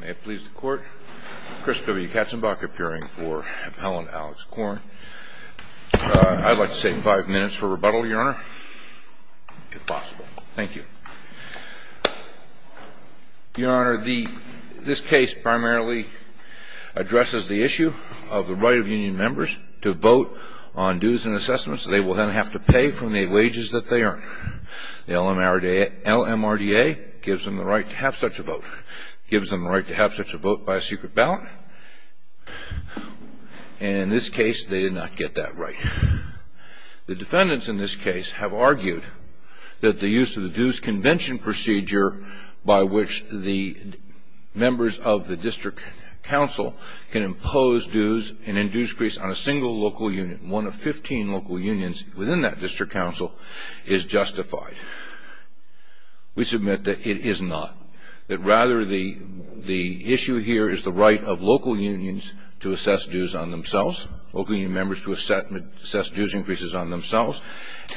May it please the Court, Chris W. Katzenbach appearing for Appellant Alex Corn. I'd like to take five minutes for rebuttal, Your Honor, if possible. Thank you. Your Honor, this case primarily addresses the issue of the right of union members to vote on dues and assessments that they will then have to pay from the wages that they earn. The LMRDA gives them the right to have such a vote. It gives them the right to have such a vote by a secret ballot. And in this case, they did not get that right. The defendants in this case have argued that the use of the dues convention procedure by which the members of the district council can impose dues and induce crease on a single local union, one of 15 local unions within that district council, is justified. We submit that it is not, that rather the issue here is the right of local unions to assess dues on themselves, local union members to assess dues increases on themselves,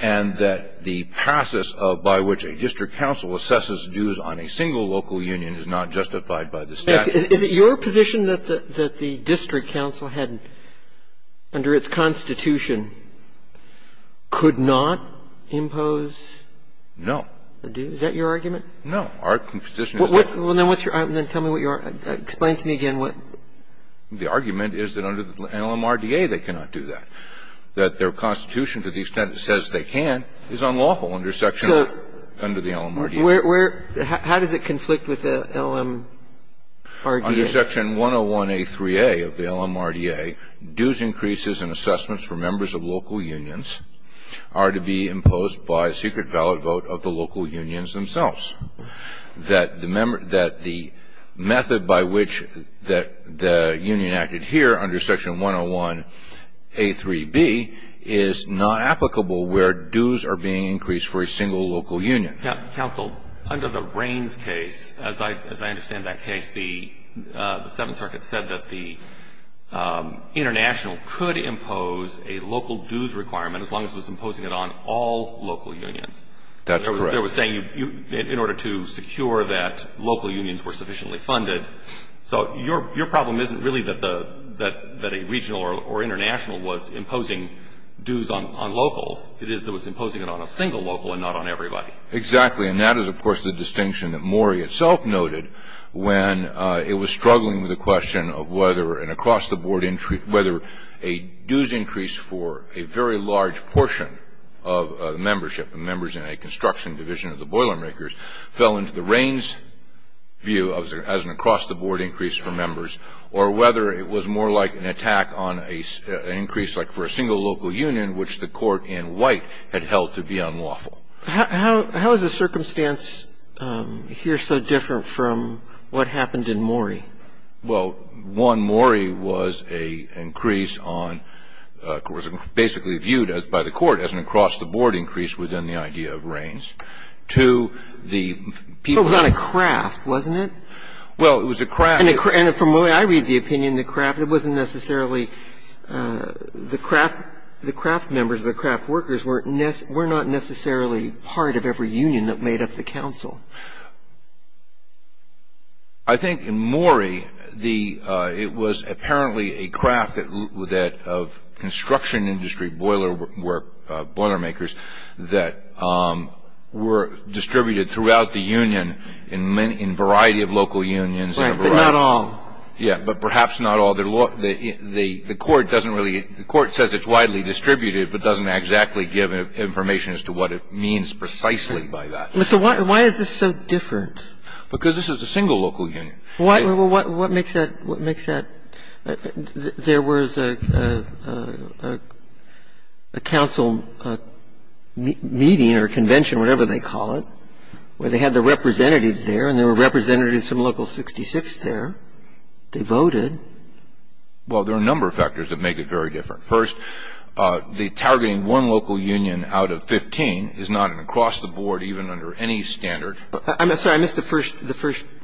and that the process by which a district council assesses dues on a single local union is not justified by the statute. Is it your position that the district council had, under its constitution, could not impose? No. Is that your argument? No. Our position is that. Well, then what's your argument? Tell me what your argument is. Explain to me again what. The argument is that under the LMRDA they cannot do that, that their constitution, to the extent it says they can, is unlawful under section under the LMRDA. So where, how does it conflict with the LM? Under section 101A3A of the LMRDA, dues increases and assessments for members of local unions are to be imposed by secret ballot vote of the local unions themselves, that the method by which the union acted here under section 101A3B is not applicable where dues are being increased for a single local union. Counsel, under the Raines case, as I understand that case, the Seventh Circuit said that the international could impose a local dues requirement as long as it was imposing it on all local unions. That's correct. They were saying in order to secure that local unions were sufficiently funded. So your problem isn't really that a regional or international was imposing dues on locals. It is that it was imposing it on a single local and not on everybody. Exactly. And that is, of course, the distinction that Morey itself noted when it was struggling with the question of whether an across-the-board increase, whether a dues increase for a very large portion of membership, members in a construction division of the Boilermakers, fell into the Raines view as an across-the-board increase for members, or whether it was more like an attack on an increase like for a single local union, which the court in White had held to be unlawful. How is the circumstance here so different from what happened in Morey? Well, one, Morey was an increase on of course basically viewed by the court as an across-the-board increase within the idea of Raines. Two, the people in the Boilermakers. But it was on a craft, wasn't it? Well, it was a craft. And from the way I read the opinion, the craft, it wasn't necessarily the craft members, the craft workers were not necessarily part of every union that made up the council. I think in Morey, it was apparently a craft that of construction industry boiler work, Boilermakers, that were distributed throughout the union in variety of local unions. Right. But not all. Yeah. But perhaps not all. Right. But the court doesn't really – the court says it's widely distributed, but doesn't exactly give information as to what it means precisely by that. So why is this so different? Because this is a single local union. What makes that – what makes that? There was a council meeting or convention, whatever they call it, where they had the representatives there, and there were representatives from Local 66 there. They voted. Well, there are a number of factors that make it very different. First, the targeting one local union out of 15 is not an across-the-board, even under any standard. I'm sorry. I missed the first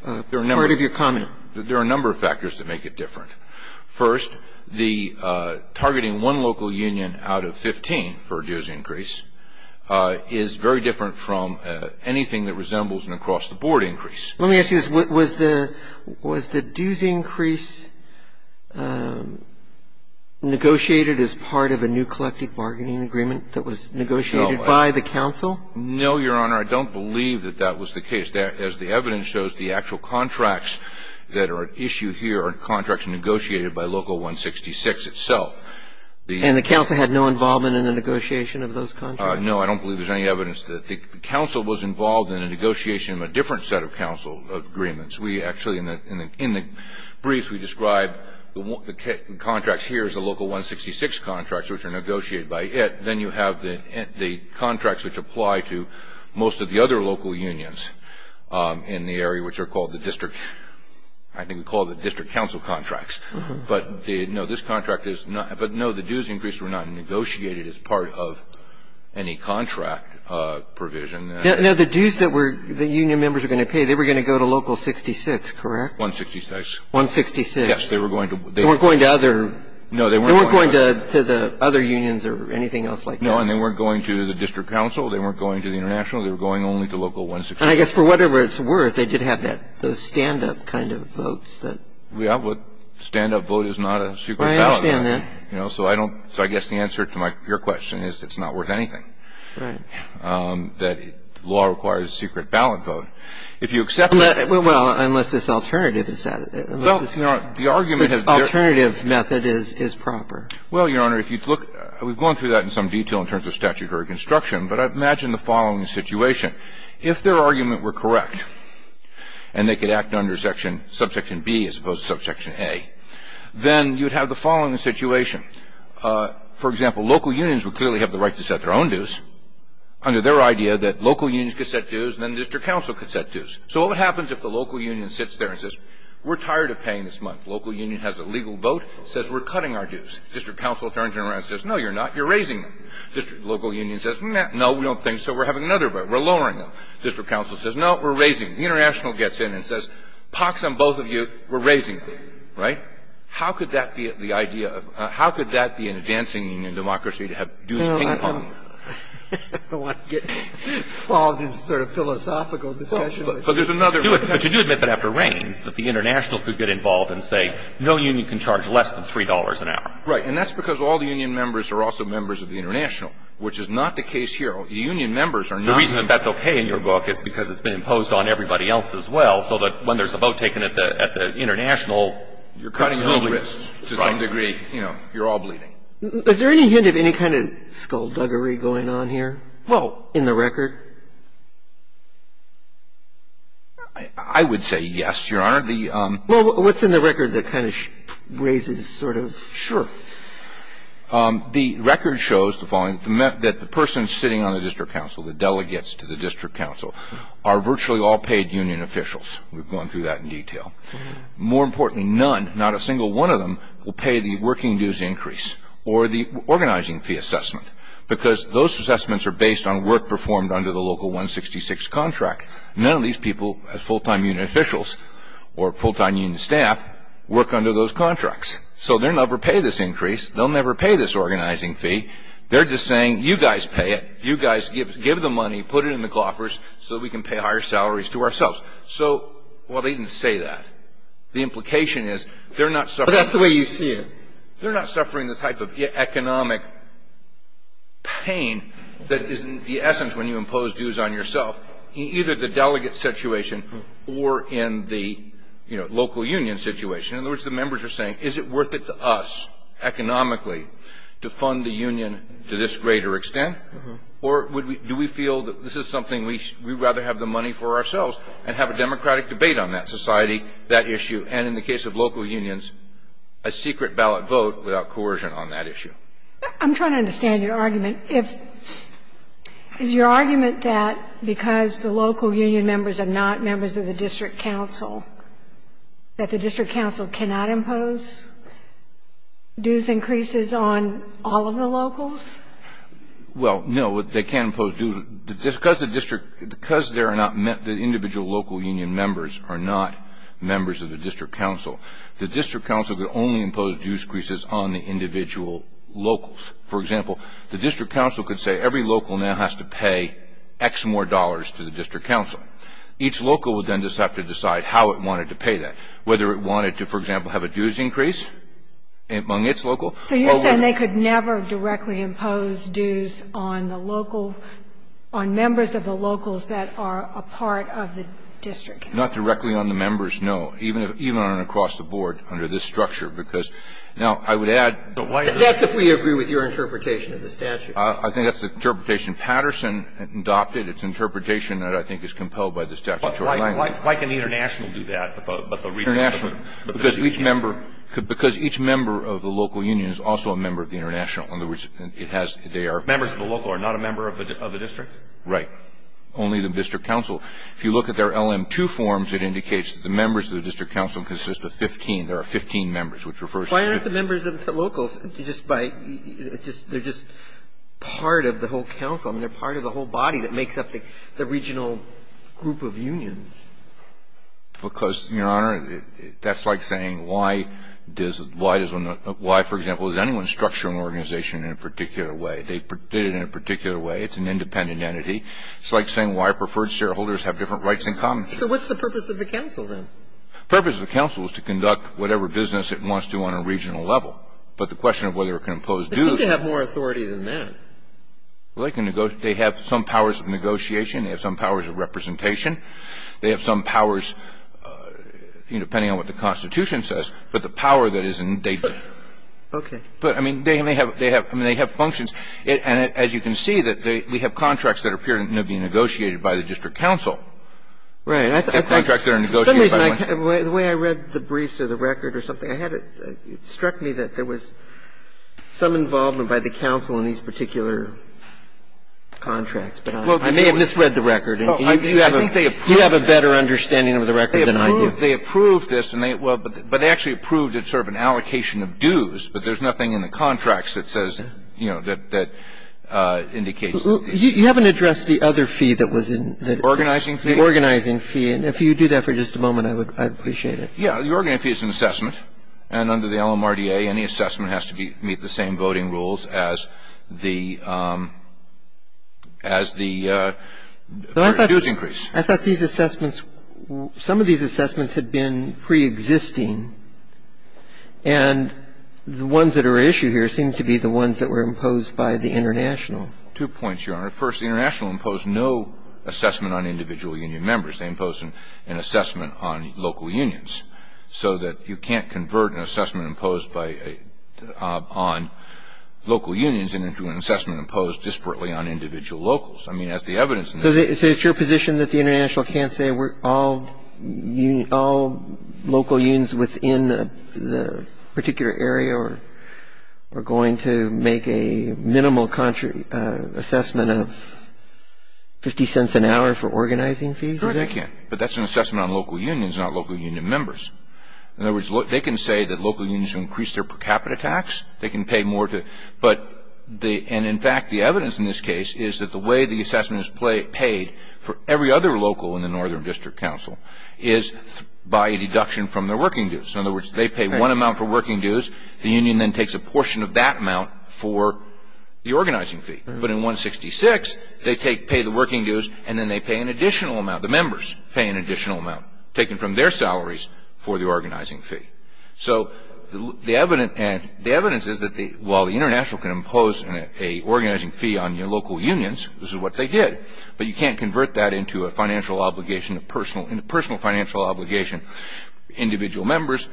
part of your comment. There are a number of factors that make it different. First, the targeting one local union out of 15 for a dues increase is very different from anything that resembles an across-the-board increase. Let me ask you this. Was the dues increase negotiated as part of a new collective bargaining agreement that was negotiated by the council? No, Your Honor. I don't believe that that was the case. As the evidence shows, the actual contracts that are at issue here are contracts negotiated by Local 166 itself. And the council had no involvement in the negotiation of those contracts? No, I don't believe there's any evidence that the council was involved in a negotiation of a different set of council agreements. We actually, in the brief, we described the contracts here as the Local 166 contracts, which are negotiated by it. Then you have the contracts which apply to most of the other local unions in the area, which are called the district. I think we call the district council contracts. But, no, this contract is not. But, no, the dues increase were not negotiated as part of any contract provision. Now, the dues that the union members are going to pay, they were going to go to Local 66, correct? 166. 166. Yes, they were going to. They weren't going to other. No, they weren't going to. To the other unions or anything else like that. No, and they weren't going to the district council. They weren't going to the international. They were going only to Local 166. And I guess for whatever it's worth, they did have that, those stand-up kind of votes that. Yeah, but stand-up vote is not a secret ballot. I understand that. You know, so I don't. So I guess the answer to your question is it's not worth anything. Right. That law requires a secret ballot vote. If you accept it. Well, unless this alternative is set. Well, the argument of. Alternative method is proper. Well, Your Honor, if you look. We've gone through that in some detail in terms of statutory construction, but I imagine the following situation. If their argument were correct and they could act under section, subsection B as opposed to subsection A, then you would have the following situation. For example, local unions would clearly have the right to set their own dues under their idea that local unions could set dues and then district council could set dues. So what happens if the local union sits there and says we're tired of paying this vote, says we're cutting our dues. District council turns around and says, no, you're not. You're raising them. Local union says, no, we don't think so. We're having another vote. We're lowering them. District council says, no, we're raising them. The international gets in and says, pox on both of you. We're raising them. Right? How could that be the idea of how could that be an advancing union democracy to have dues ping pong? I don't want to get involved in sort of philosophical discussion. But there's another. But you do admit that after rains that the international could get involved and say no union can charge less than $3 an hour. Right. And that's because all the union members are also members of the international, which is not the case here. Union members are not. The reason that that's okay in your book is because it's been imposed on everybody else as well so that when there's a vote taken at the international, you're cutting all risks to some degree. You know, you're all bleeding. Is there any hint of any kind of skullduggery going on here in the record? I would say yes, Your Honor. Well, what's in the record that kind of raises sort of? Sure. The record shows the following, that the person sitting on the district council, the delegates to the district council, are virtually all paid union officials. We've gone through that in detail. More importantly, none, not a single one of them will pay the working dues increase or the organizing fee assessment because those assessments are based on work performed under the local 166 contract. None of these people, as full-time union officials or full-time union staff, work under those contracts. So they'll never pay this increase. They'll never pay this organizing fee. They're just saying, you guys pay it. You guys give the money, put it in the cloffers so that we can pay higher salaries to ourselves. So, well, they didn't say that. The implication is they're not suffering. But that's the way you see it. They're not suffering the type of economic pain that is the essence when you impose dues on yourself. In either the delegate situation or in the, you know, local union situation. In other words, the members are saying, is it worth it to us economically to fund the union to this greater extent? Or do we feel that this is something we'd rather have the money for ourselves and have a democratic debate on that society, that issue, and in the case of local unions, a secret ballot vote without coercion on that issue? I'm trying to understand your argument. Is your argument that because the local union members are not members of the district council, that the district council cannot impose dues increases on all of the locals? Well, no. They can't impose dues. Because the district ñ because there are not ñ the individual local union members are not members of the district council. The district council could only impose dues increases on the individual locals. For example, the district council could say every local now has to pay X more dollars to the district council. Each local would then just have to decide how it wanted to pay that, whether it wanted to, for example, have a dues increase among its local. So you're saying they could never directly impose dues on the local ñ on members of the locals that are a part of the district council? Not directly on the members, no. Even on an across-the-board, under this structure. Because, now, I would add ñ But why ñ That's if we agree with your interpretation of the statute. I think that's the interpretation Patterson adopted. It's interpretation that I think is compelled by this statutory language. Why can the international do that, but the regional ñ International. Because each member ñ because each member of the local union is also a member of the international. In other words, it has ñ they are ñ Members of the local are not a member of the district? Right. Only the district council. If you look at their LM-2 forms, it indicates that the members of the district council consist of 15. There are 15 members, which refers to ñ Why aren't the members of the locals just by ñ just ñ they're just part of the whole council? I mean, they're part of the whole body that makes up the regional group of unions. Because, Your Honor, that's like saying why does ñ why does one ñ why, for example, does anyone structure an organization in a particular way? They did it in a particular way. It's an independent entity. It's like saying why preferred shareholders have different rights in common. So what's the purpose of the council, then? The purpose of the council is to conduct whatever business it wants to on a regional level. But the question of whether it can impose duties ñ They seem to have more authority than that. Well, they can ñ they have some powers of negotiation. They have some powers of representation. They have some powers, you know, depending on what the Constitution says, but the power that is ñ they ñ Okay. But, I mean, they may have ñ they have ñ I mean, they have functions. And as you can see, that they ñ we have contracts that appear to be negotiated by the district council. Right. And I think ñ Contracts that are negotiated by one ñ For some reason, the way I read the briefs or the record or something, I had a ñ it struck me that there was some involvement by the council in these particular contracts. But I may have misread the record. And you have a ñ you have a better understanding of the record than I do. They approve this, and they ñ well, but they actually approve that it's sort of an allocation of dues. But there's nothing in the contracts that says, you know, that indicates ñ You haven't addressed the other fee that was in ñ The organizing fee? The organizing fee. And if you do that for just a moment, I would ñ I'd appreciate it. Yeah. The organizing fee is an assessment. And under the LMRDA, any assessment has to be ñ meet the same voting rules as the ñ as the dues increase. I thought these assessments ñ some of these assessments had been preexisting. And the ones that are at issue here seem to be the ones that were imposed by the international. Two points, Your Honor. First, the international imposed no assessment on individual union members. They imposed an assessment on local unions. So that you can't convert an assessment imposed by ñ on local unions into an assessment imposed disparately on individual locals. I mean, that's the evidence. So it's your position that the international can't say all ñ all local unions within the particular area are going to make a minimal assessment of 50 cents an hour for organizing fees? Sure they can. But that's an assessment on local unions, not local union members. In other words, they can say that local unions increase their per capita tax. They can pay more to ñ but the ñ and in fact, the evidence in this case is that the way the assessment is paid for every other local in the Northern District Council is by a deduction from their working dues. In other words, they pay one amount for working dues. The union then takes a portion of that amount for the organizing fee. But in 166, they take ñ pay the working dues, and then they pay an additional amount. The members pay an additional amount taken from their salaries for the organizing fee. So the evidence ñ and the evidence is that the ñ while the international can impose an ñ a organizing fee on your local unions, this is what they did, but you can't convert that into a financial obligation, a personal ñ a personal financial obligation for individual members,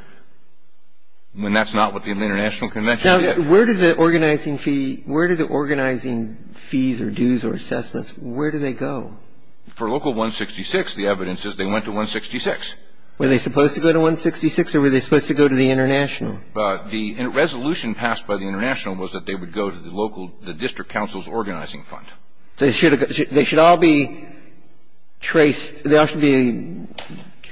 when that's not what the international convention did. Now, where did the organizing fee ñ where did the organizing fees or dues or assessments ñ where did they go? For local 166, the evidence is they went to 166. Were they supposed to go to 166, or were they supposed to go to the international? The resolution passed by the international was that they would go to the local ñ the district council's organizing fund. They should have ñ they should all be traced ñ they all should be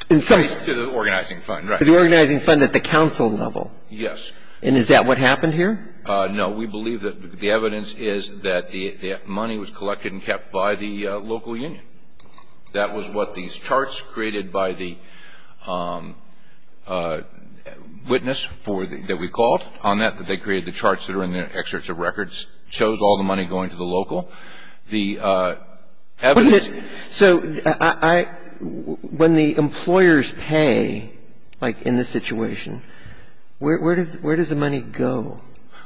in some ñ Traced to the organizing fund, right. To the organizing fund at the council level. Yes. And is that what happened here? No. We believe that the evidence is that the money was collected and kept by the local union. That was what these charts created by the witness for the ñ that we called on that, that they created the charts that are in the excerpts of records, chose all the money going to the local. The evidence ñ So I ñ when the employers pay, like in this situation, where does the money go?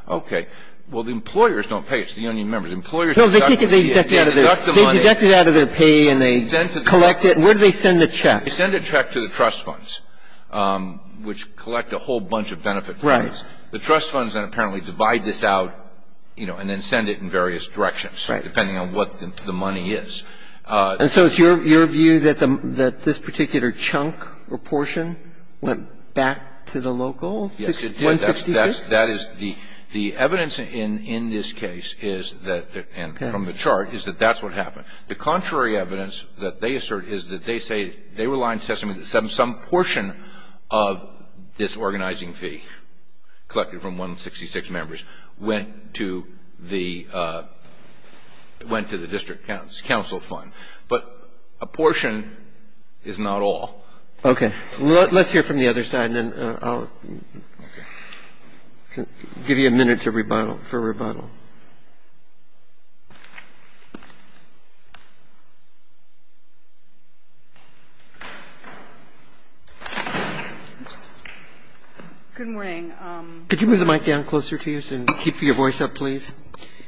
Okay. Well, the employers don't pay. It's the union members. Employers deduct the money. They deduct it out of their pay and they collect it. Where do they send the check? They send a check to the trust funds, which collect a whole bunch of benefit funds. Right. The trust funds then apparently divide this out, you know, and then send it in various directions. Right. Depending on what the money is. And so it's your view that this particular chunk or portion went back to the local union 66? Yes. 166? That is ñ the evidence in this case is that ñ and from the chart is that that's what happened. The contrary evidence that they assert is that they say they were lying to testimony that some portion of this organizing fee collected from 166 members went to the ñ went to the district council fund. But a portion is not all. Okay. Let's hear from the other side and then I'll give you a minute to rebuttal ñ for rebuttal. Good morning. Could you move the mic down closer to you and keep your voice up, please?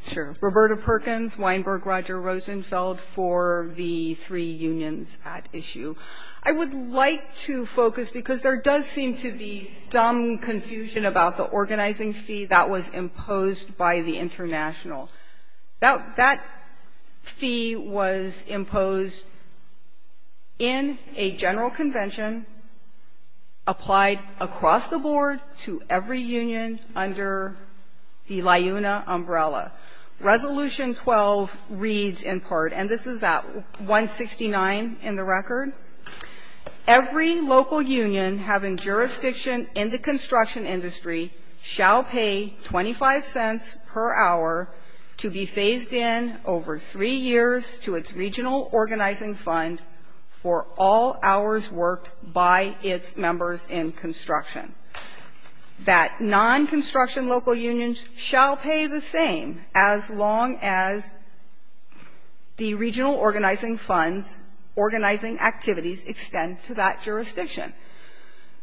Sure. Roberta Perkins, Weinberg, Roger Rosenfeld for the three unions at issue. I would like to focus ñ because there does seem to be some confusion about the organizing fee that was imposed by the international. That fee was imposed in a general convention, applied across the board to every union under the LIUNA umbrella. Resolution 12 reads in part, and this is at 169 in the record, ìEvery local union having jurisdiction in the construction industry shall pay 25 cents per hour to be phased in over three years to its regional organizing fund for all hours worked by its members in construction.î That non-construction local unions shall pay the same as long as the regional organizing funds, organizing activities extend to that jurisdiction.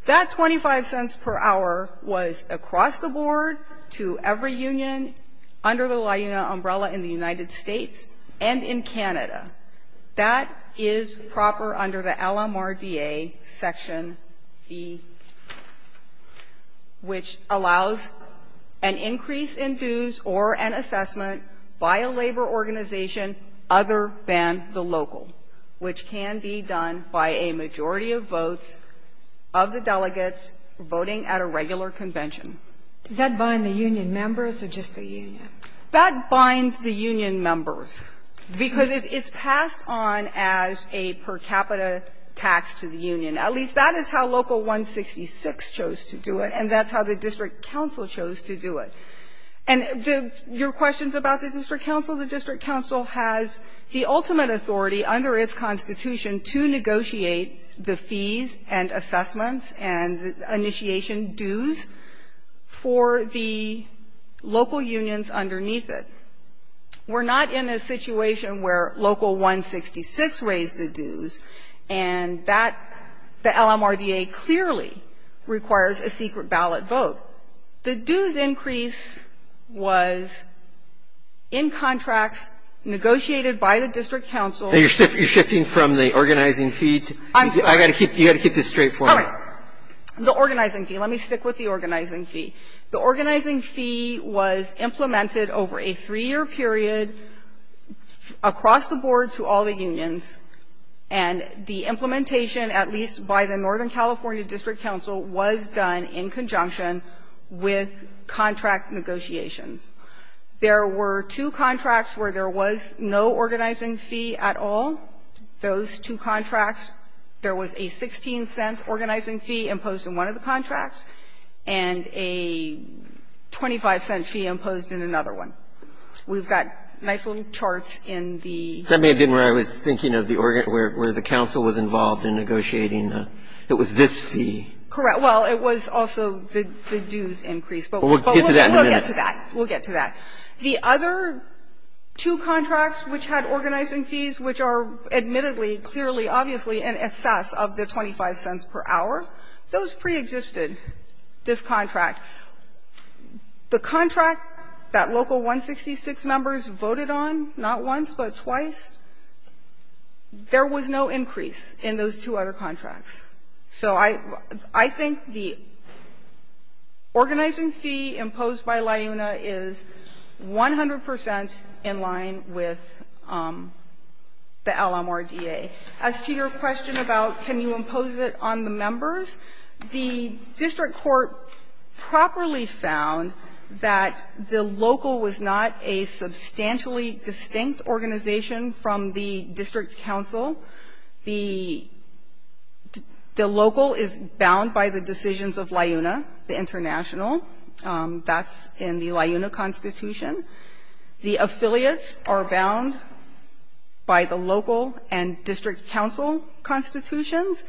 That 25 cents per hour was across the board to every union under the LIUNA umbrella That is proper under the LMRDA Section B, which allows an increase in dues or an assessment by a labor organization other than the local, which can be done by a majority of votes of the delegates voting at a regular convention. Does that bind the union members or just the union? That binds the union members, because it's passed on as a per capita tax to the union. At least that is how Local 166 chose to do it, and that's how the district council chose to do it. And your questions about the district council, the district council has the ultimate authority under its constitution to negotiate the fees and assessments and initiation dues for the local unions underneath it. We're not in a situation where Local 166 raised the dues, and that, the LMRDA clearly requires a secret ballot vote. The dues increase was in contracts negotiated by the district council. And you're shifting from the organizing fee to the fees? I'm sorry. You've got to keep this straight for me. All right. The organizing fee. Let me stick with the organizing fee. The organizing fee was implemented over a three-year period across the board to all the unions. And the implementation, at least by the Northern California District Council, was done in conjunction with contract negotiations. There were two contracts where there was no organizing fee at all. Those two contracts, there was a 16-cent organizing fee imposed in one of the contracts and a 25-cent fee imposed in another one. We've got nice little charts in the ---- That may have been where I was thinking of the organ ---- where the council was involved in negotiating the ---- it was this fee. Correct. Well, it was also the dues increase. But we'll get to that in a minute. We'll get to that. We'll get to that. The other two contracts which had organizing fees, which are admittedly clearly obviously in excess of the 25 cents per hour, those preexisted this contract. The contract that local 166 members voted on, not once but twice, there was no increase in those two other contracts. So I think the organizing fee imposed by LIUNA is 100 percent in line with the LMRDA. As to your question about can you impose it on the members, the district court properly found that the local was not a substantially distinct organization from the district council. The local is bound by the decisions of LIUNA, the international. That's in the LIUNA constitution. The affiliates are bound by the local and district council constitutions.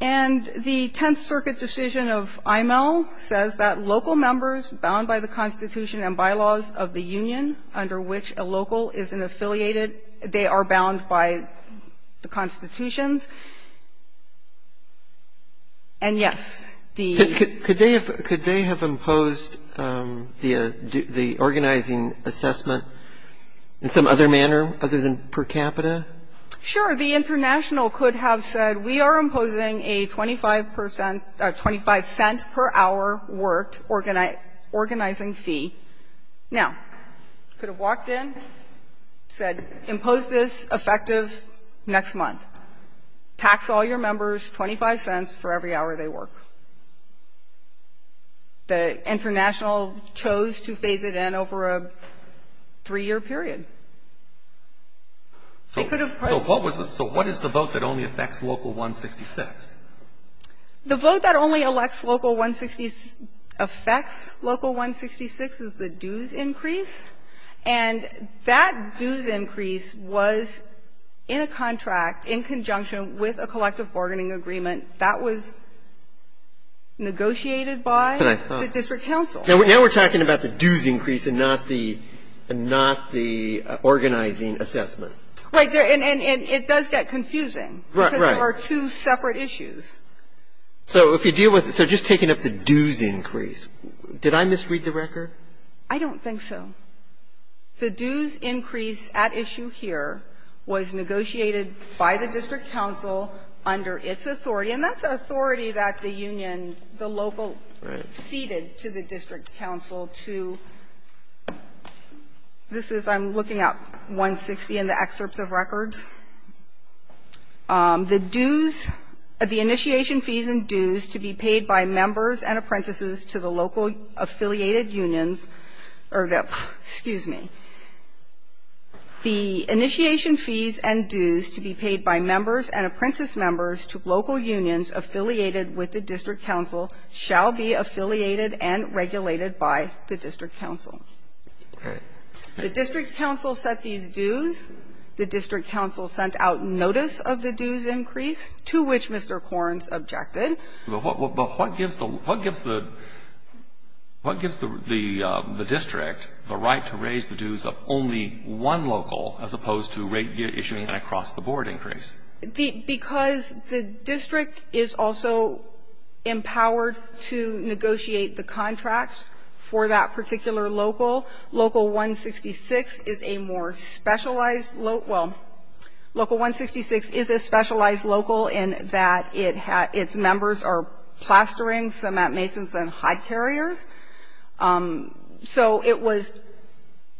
And the Tenth Circuit decision of IML says that local members bound by the constitution and bylaws of the union under which a local is an affiliated. They are bound by the constitutions. And, yes, the ---- Could they have imposed the organizing assessment in some other manner other than per capita? Sure. The international could have said we are imposing a 25 percent or 25 cents per hour worked organizing fee. Now, could have walked in, said impose this effective next month. Tax all your members 25 cents for every hour they work. The international chose to phase it in over a three-year period. They could have ---- So what is the vote that only affects Local 166? The vote that only affects Local 166 is the dues increase. And that dues increase was in a contract in conjunction with a collective bargaining agreement that was negotiated by the district council. Now we are talking about the dues increase and not the organizing assessment. Right. And it does get confusing. Right. Because there are two separate issues. So if you deal with it, so just taking up the dues increase, did I misread the record? I don't think so. The dues increase at issue here was negotiated by the district council under its authority, and that's authority that the union, the local, ceded to the district council to ---- this is, I'm looking at 160 in the excerpts of records. The dues, the initiation fees and dues to be paid by members and apprentices to the local affiliated unions, or the ---- excuse me. The initiation fees and dues to be paid by members and apprentice members to local unions affiliated with the district council shall be affiliated and regulated by the district council. Okay. The district council set these dues. The district council sent out notice of the dues increase, to which Mr. Corns objected. But what gives the district the right to raise the dues of only one local as opposed to issuing an across-the-board increase? Because the district is also empowered to negotiate the contracts for that particular local, Local 166 is a more specialized local ---- well, Local 166 is a specialized local in that its members are plastering cement masons and hide carriers. So it was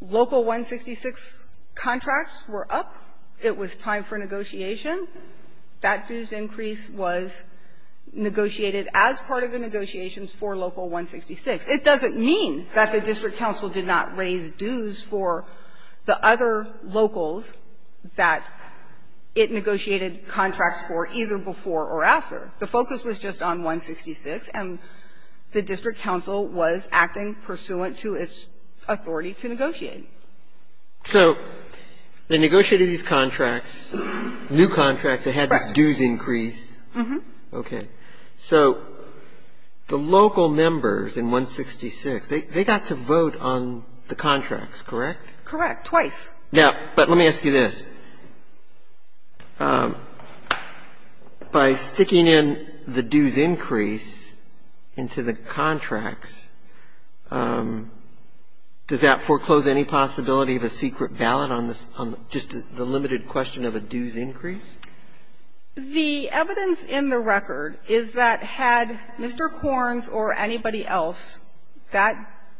Local 166 contracts were up. It was time for negotiation. That dues increase was negotiated as part of the negotiations for Local 166. It doesn't mean that the district council did not raise dues for the other locals that it negotiated contracts for either before or after. The focus was just on 166, and the district council was acting pursuant to its authority to negotiate. So they negotiated these contracts, new contracts that had this dues increase. Mm-hmm. So the local members in 166, they got to vote on the contracts, correct? Correct, twice. Yeah. But let me ask you this. By sticking in the dues increase into the contracts, does that foreclose any possibility of a secret ballot on just the limited question of a dues increase? The evidence in the record is that had Mr. Corns or anybody else that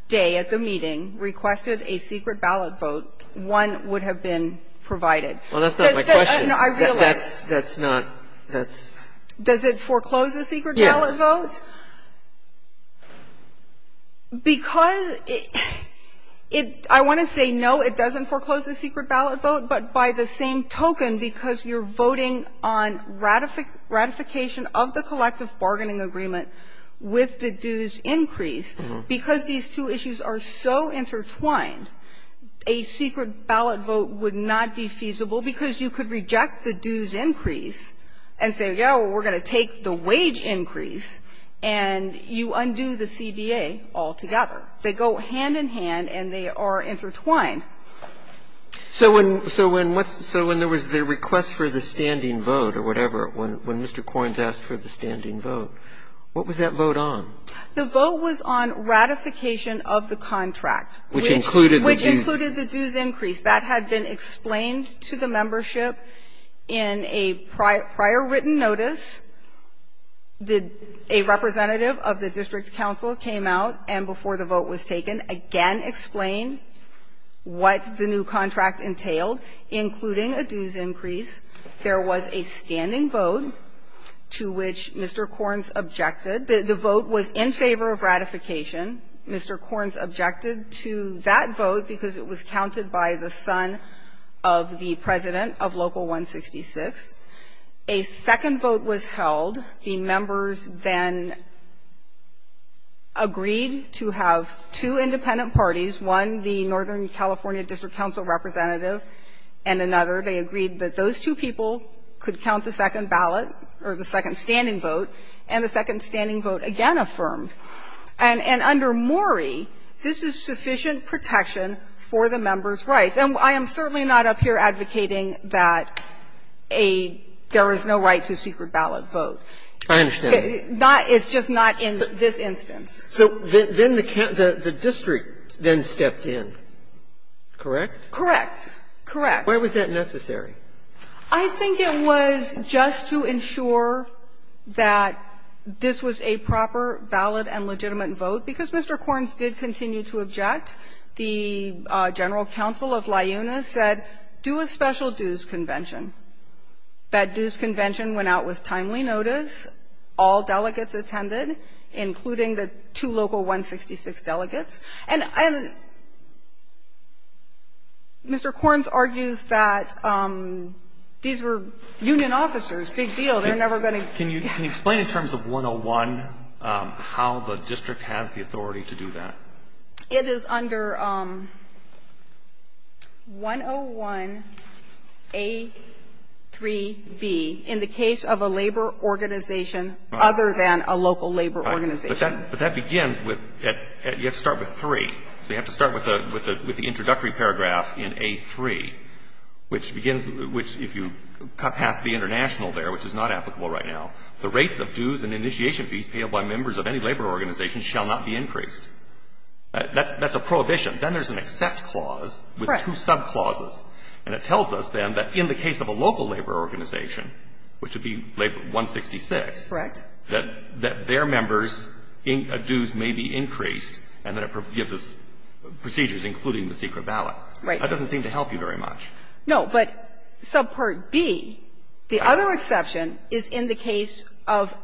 day at the meeting requested a secret ballot vote, one would have been provided. Well, that's not my question. No, I realize. That's not ---- that's ---- Does it foreclose a secret ballot vote? Yes. Because it ---- I want to say, no, it doesn't foreclose a secret ballot vote, but by the same token, because you're voting on ratification of the collective bargaining agreement with the dues increase, because these two issues are so intertwined, a secret ballot vote would not be feasible, because you could reject the dues increase and say, yeah, we're going to take the wage increase, and you undo the CBA altogether. They go hand-in-hand, and they are intertwined. So when ---- so when what's ---- so when there was the request for the standing vote or whatever, when Mr. Corns asked for the standing vote, what was that vote on? The vote was on ratification of the contract, which included the dues increase. That had been explained to the membership in a prior written notice. A representative of the district council came out and, before the vote was taken, again explained what the new contract entailed, including a dues increase. There was a standing vote to which Mr. Corns objected. The vote was in favor of ratification. Mr. Corns objected to that vote because it was counted by the son of the president of Local 166. A second vote was held. The members then agreed to have two independent parties, one the Northern California District Council representative and another. They agreed that those two people could count the second ballot or the second standing vote, and the second standing vote again affirmed. And under Mori, this is sufficient protection for the members' rights. And I am certainly not up here advocating that a --"there is no right to a secret ballot vote." It's just not in this instance. So then the district then stepped in, correct? Correct. Correct. Why was that necessary? I think it was just to ensure that this was a proper, valid and legitimate vote, because Mr. Corns did continue to object. The general counsel of LiUNA said, do a special dues convention. That dues convention went out with timely notice. All delegates attended, including the two Local 166 delegates. And Mr. Corns argues that these were union officers, big deal. They're never going to be able to do that. Can you explain in terms of 101 how the district has the authority to do that? It is under 101a3b in the case of a labor organization other than a local labor organization. But that begins with you have to start with 3. So you have to start with the introductory paragraph in a3, which begins, which if you cut past the international there, which is not applicable right now, the rates of dues and initiation fees paid by members of any labor organization shall not be increased. That's a prohibition. Then there's an except clause with two subclauses. And it tells us, then, that in the case of a local labor organization, which would be Labor 166, that their members' dues may be increased, and then it gives us procedures, including the secret ballot. Right. That doesn't seem to help you very much. No, but subpart b, the other exception is in the case of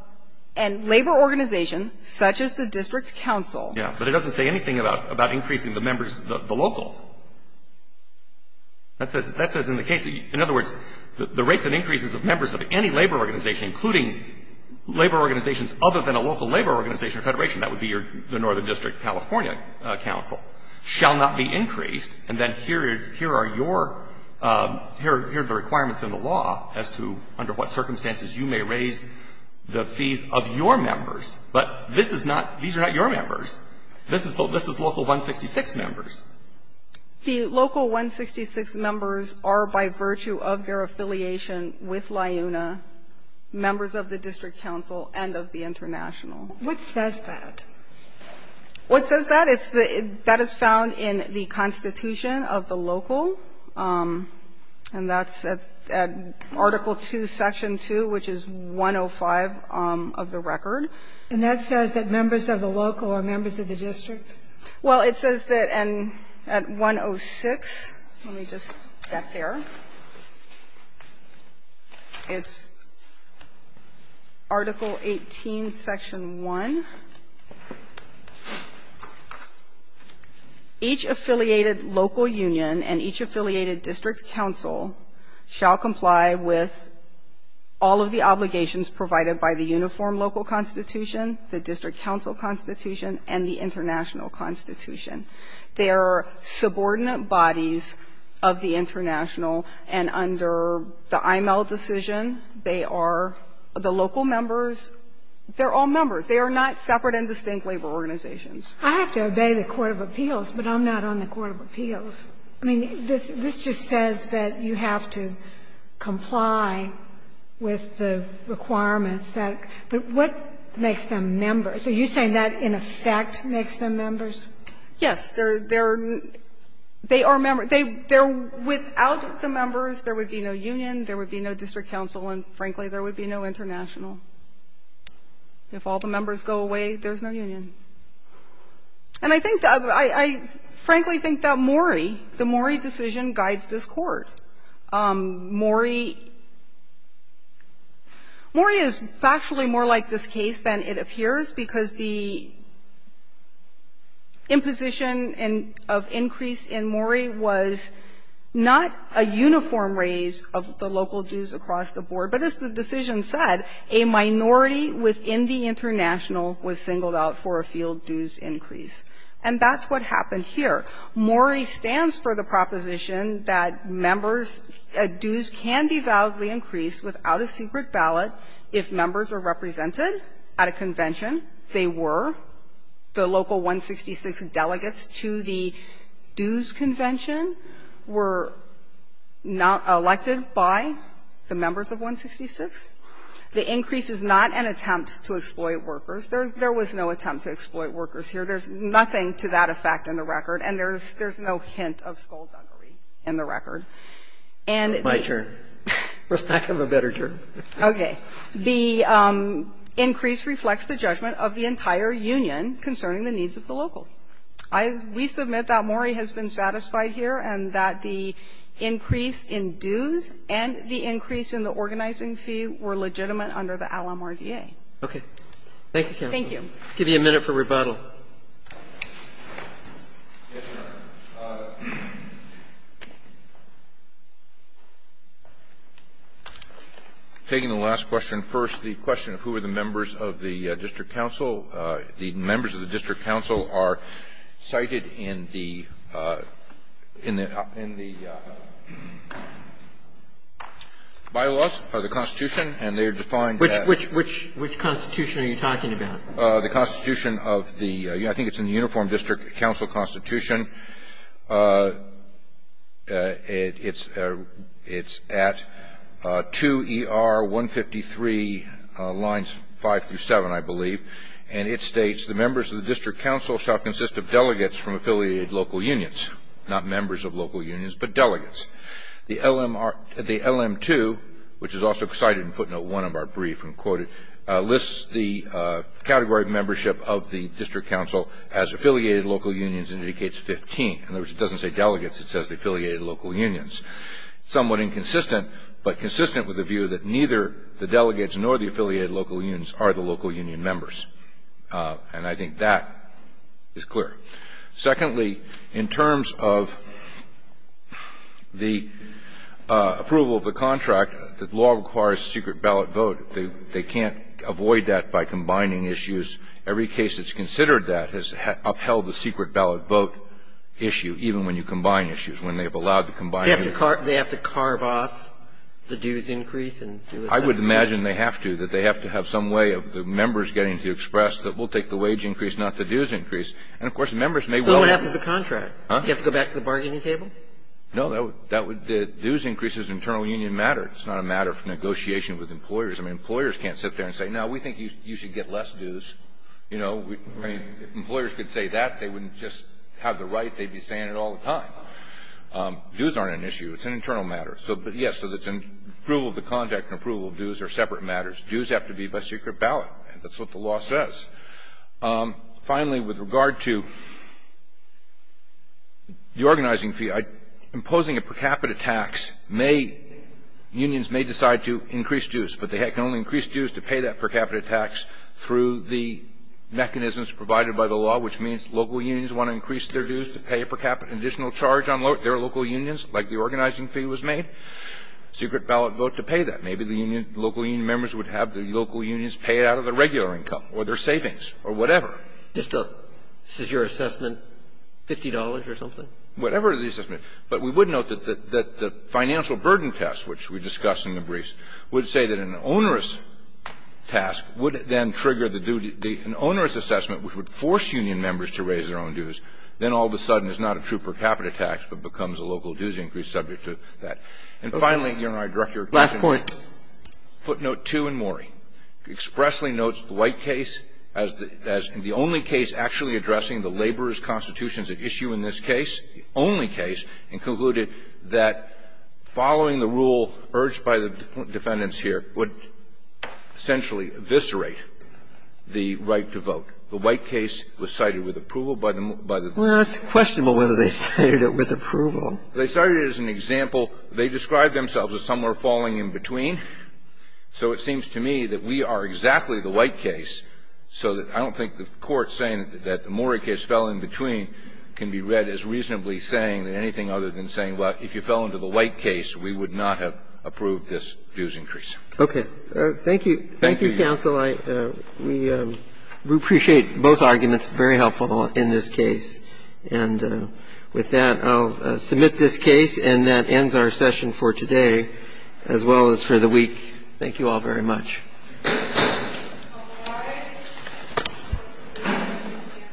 a labor organization such as the district council. Yeah. But it doesn't say anything about increasing the members, the locals. That says in the case, in other words, the rates and increases of members of any labor organization, including labor organizations other than a local labor organization or federation, that would be the Northern District California Council, shall not be increased. And then here are your, here are the requirements in the law as to under what circumstances you may raise the fees of your members. But this is not, these are not your members. This is local 166 members. The local 166 members are, by virtue of their affiliation with LIUNA, members of the district council and of the international. What says that? What says that? It's the, that is found in the Constitution of the local, and that's at Article 2, Section 2, which is 105 of the record. And that says that members of the local are members of the district? Well, it says that at 106, let me just get there, it's Article 18, Section 1. Each affiliated local union and each affiliated district council shall comply with all of the obligations provided by the uniform local constitution, the district council constitution, and the international constitution. They are subordinate bodies of the international, and under the IML decision, they are the local members, they're all members. They are not separate and distinct labor organizations. I have to obey the court of appeals, but I'm not on the court of appeals. I mean, this just says that you have to comply with the requirements that, but what makes them members? Are you saying that in effect makes them members? Yes. They're, they are members. They, without the members, there would be no union, there would be no district council, and frankly, there would be no international. If all the members go away, there's no union. And I think that, I frankly think that Mori, the Mori decision guides this Court. Mori, Mori is factually more like this case than it appears because the imposition of increase in Mori was not a uniform raise of the local dues across the board. But as the decision said, a minority within the international was singled out for a field dues increase. And that's what happened here. Mori stands for the proposition that members' dues can be validly increased without a secret ballot if members are represented at a convention. They were. The local 166 delegates to the dues convention were not elected by the members of 166. The increase is not an attempt to exploit workers. There was no attempt to exploit workers here. There's nothing to that effect in the record, and there's no hint of skullduggery in the record. And it's my turn. I have a better turn. Okay. The increase reflects the judgment of the entire union concerning the needs of the local. I, we submit that Mori has been satisfied here and that the increase in dues and the increase in the organizing fee were legitimate under the Al-Ahmadiyya. Okay. Thank you, counsel. Thank you. I'll give you a minute for rebuttal. Yes, Your Honor. Taking the last question first, the question of who are the members of the district council. The members of the district council are cited in the, in the, in the bylaws of the Constitution, and they are defined as Which, which, which, which Constitution are you talking about? The Constitution of the, I think it's in the Uniform District Council Constitution. It's, it's at 2ER153 lines 5 through 7, I believe, and it states, The members of the district council shall consist of delegates from affiliated local unions, not members of local unions, but delegates. The LMR, the LM2, which is also cited in footnote 1 of our brief and quoted, lists the category of membership of the district council as affiliated local unions and indicates 15. In other words, it doesn't say delegates. It says the affiliated local unions. Somewhat inconsistent, but consistent with the view that neither the delegates nor the affiliated local unions are the local union members. And I think that is clear. Secondly, in terms of the approval of the contract, the law requires secret ballot vote. They, they can't avoid that by combining issues. Every case that's considered that has upheld the secret ballot vote issue, even when you combine issues, when they have allowed the combining of issues. They have to carve off the dues increase and do a subset? I would imagine they have to, that they have to have some way of the members getting to express that we'll take the wage increase, not the dues increase. And, of course, members may well want to. What happens to the contract? Huh? Do you have to go back to the bargaining table? No. That would, the dues increase is an internal union matter. It's not a matter of negotiation with employers. I mean, employers can't sit there and say, no, we think you should get less dues. You know, I mean, if employers could say that, they wouldn't just have the right. They'd be saying it all the time. Dues aren't an issue. It's an internal matter. So, yes, so it's an approval of the contract and approval of dues are separate matters. Dues have to be by secret ballot. That's what the law says. Finally, with regard to the organizing fee, imposing a per capita tax may, unions may decide to increase dues, but they can only increase dues to pay that per capita tax through the mechanisms provided by the law, which means local unions want to increase their dues to pay a per capita additional charge on their local unions, like the organizing fee was made. Secret ballot vote to pay that. Maybe the union, local union members would have the local unions pay it out of their regular income or their savings or whatever. Just a, this is your assessment, $50 or something? Whatever the assessment. But we would note that the financial burden test, which we discussed in the briefs, would say that an onerous task would then trigger the due, an onerous assessment which would force union members to raise their own dues, then all of a sudden it's not a true per capita tax, but becomes a local dues increase subject to that. And finally, Your Honor, I direct your attention to footnote 2 in Morey. It expressly notes the White case as the only case actually addressing the laborer's case, the only case, and concluded that following the rule urged by the defendants here would essentially eviscerate the right to vote. The White case was cited with approval by the more, by the more. Well, it's questionable whether they cited it with approval. They cited it as an example. They described themselves as somewhere falling in between. So it seems to me that we are exactly the White case, so that I don't think the Court saying that the Morey case fell in between can be read as reasonably saying anything other than saying, well, if you fell into the White case, we would not have approved this dues increase. Thank you. Thank you, counsel. We appreciate both arguments, very helpful in this case. And with that, I'll submit this case, and that ends our session for today, as well as for the week. Thank you all very much. Thank you. Thank you.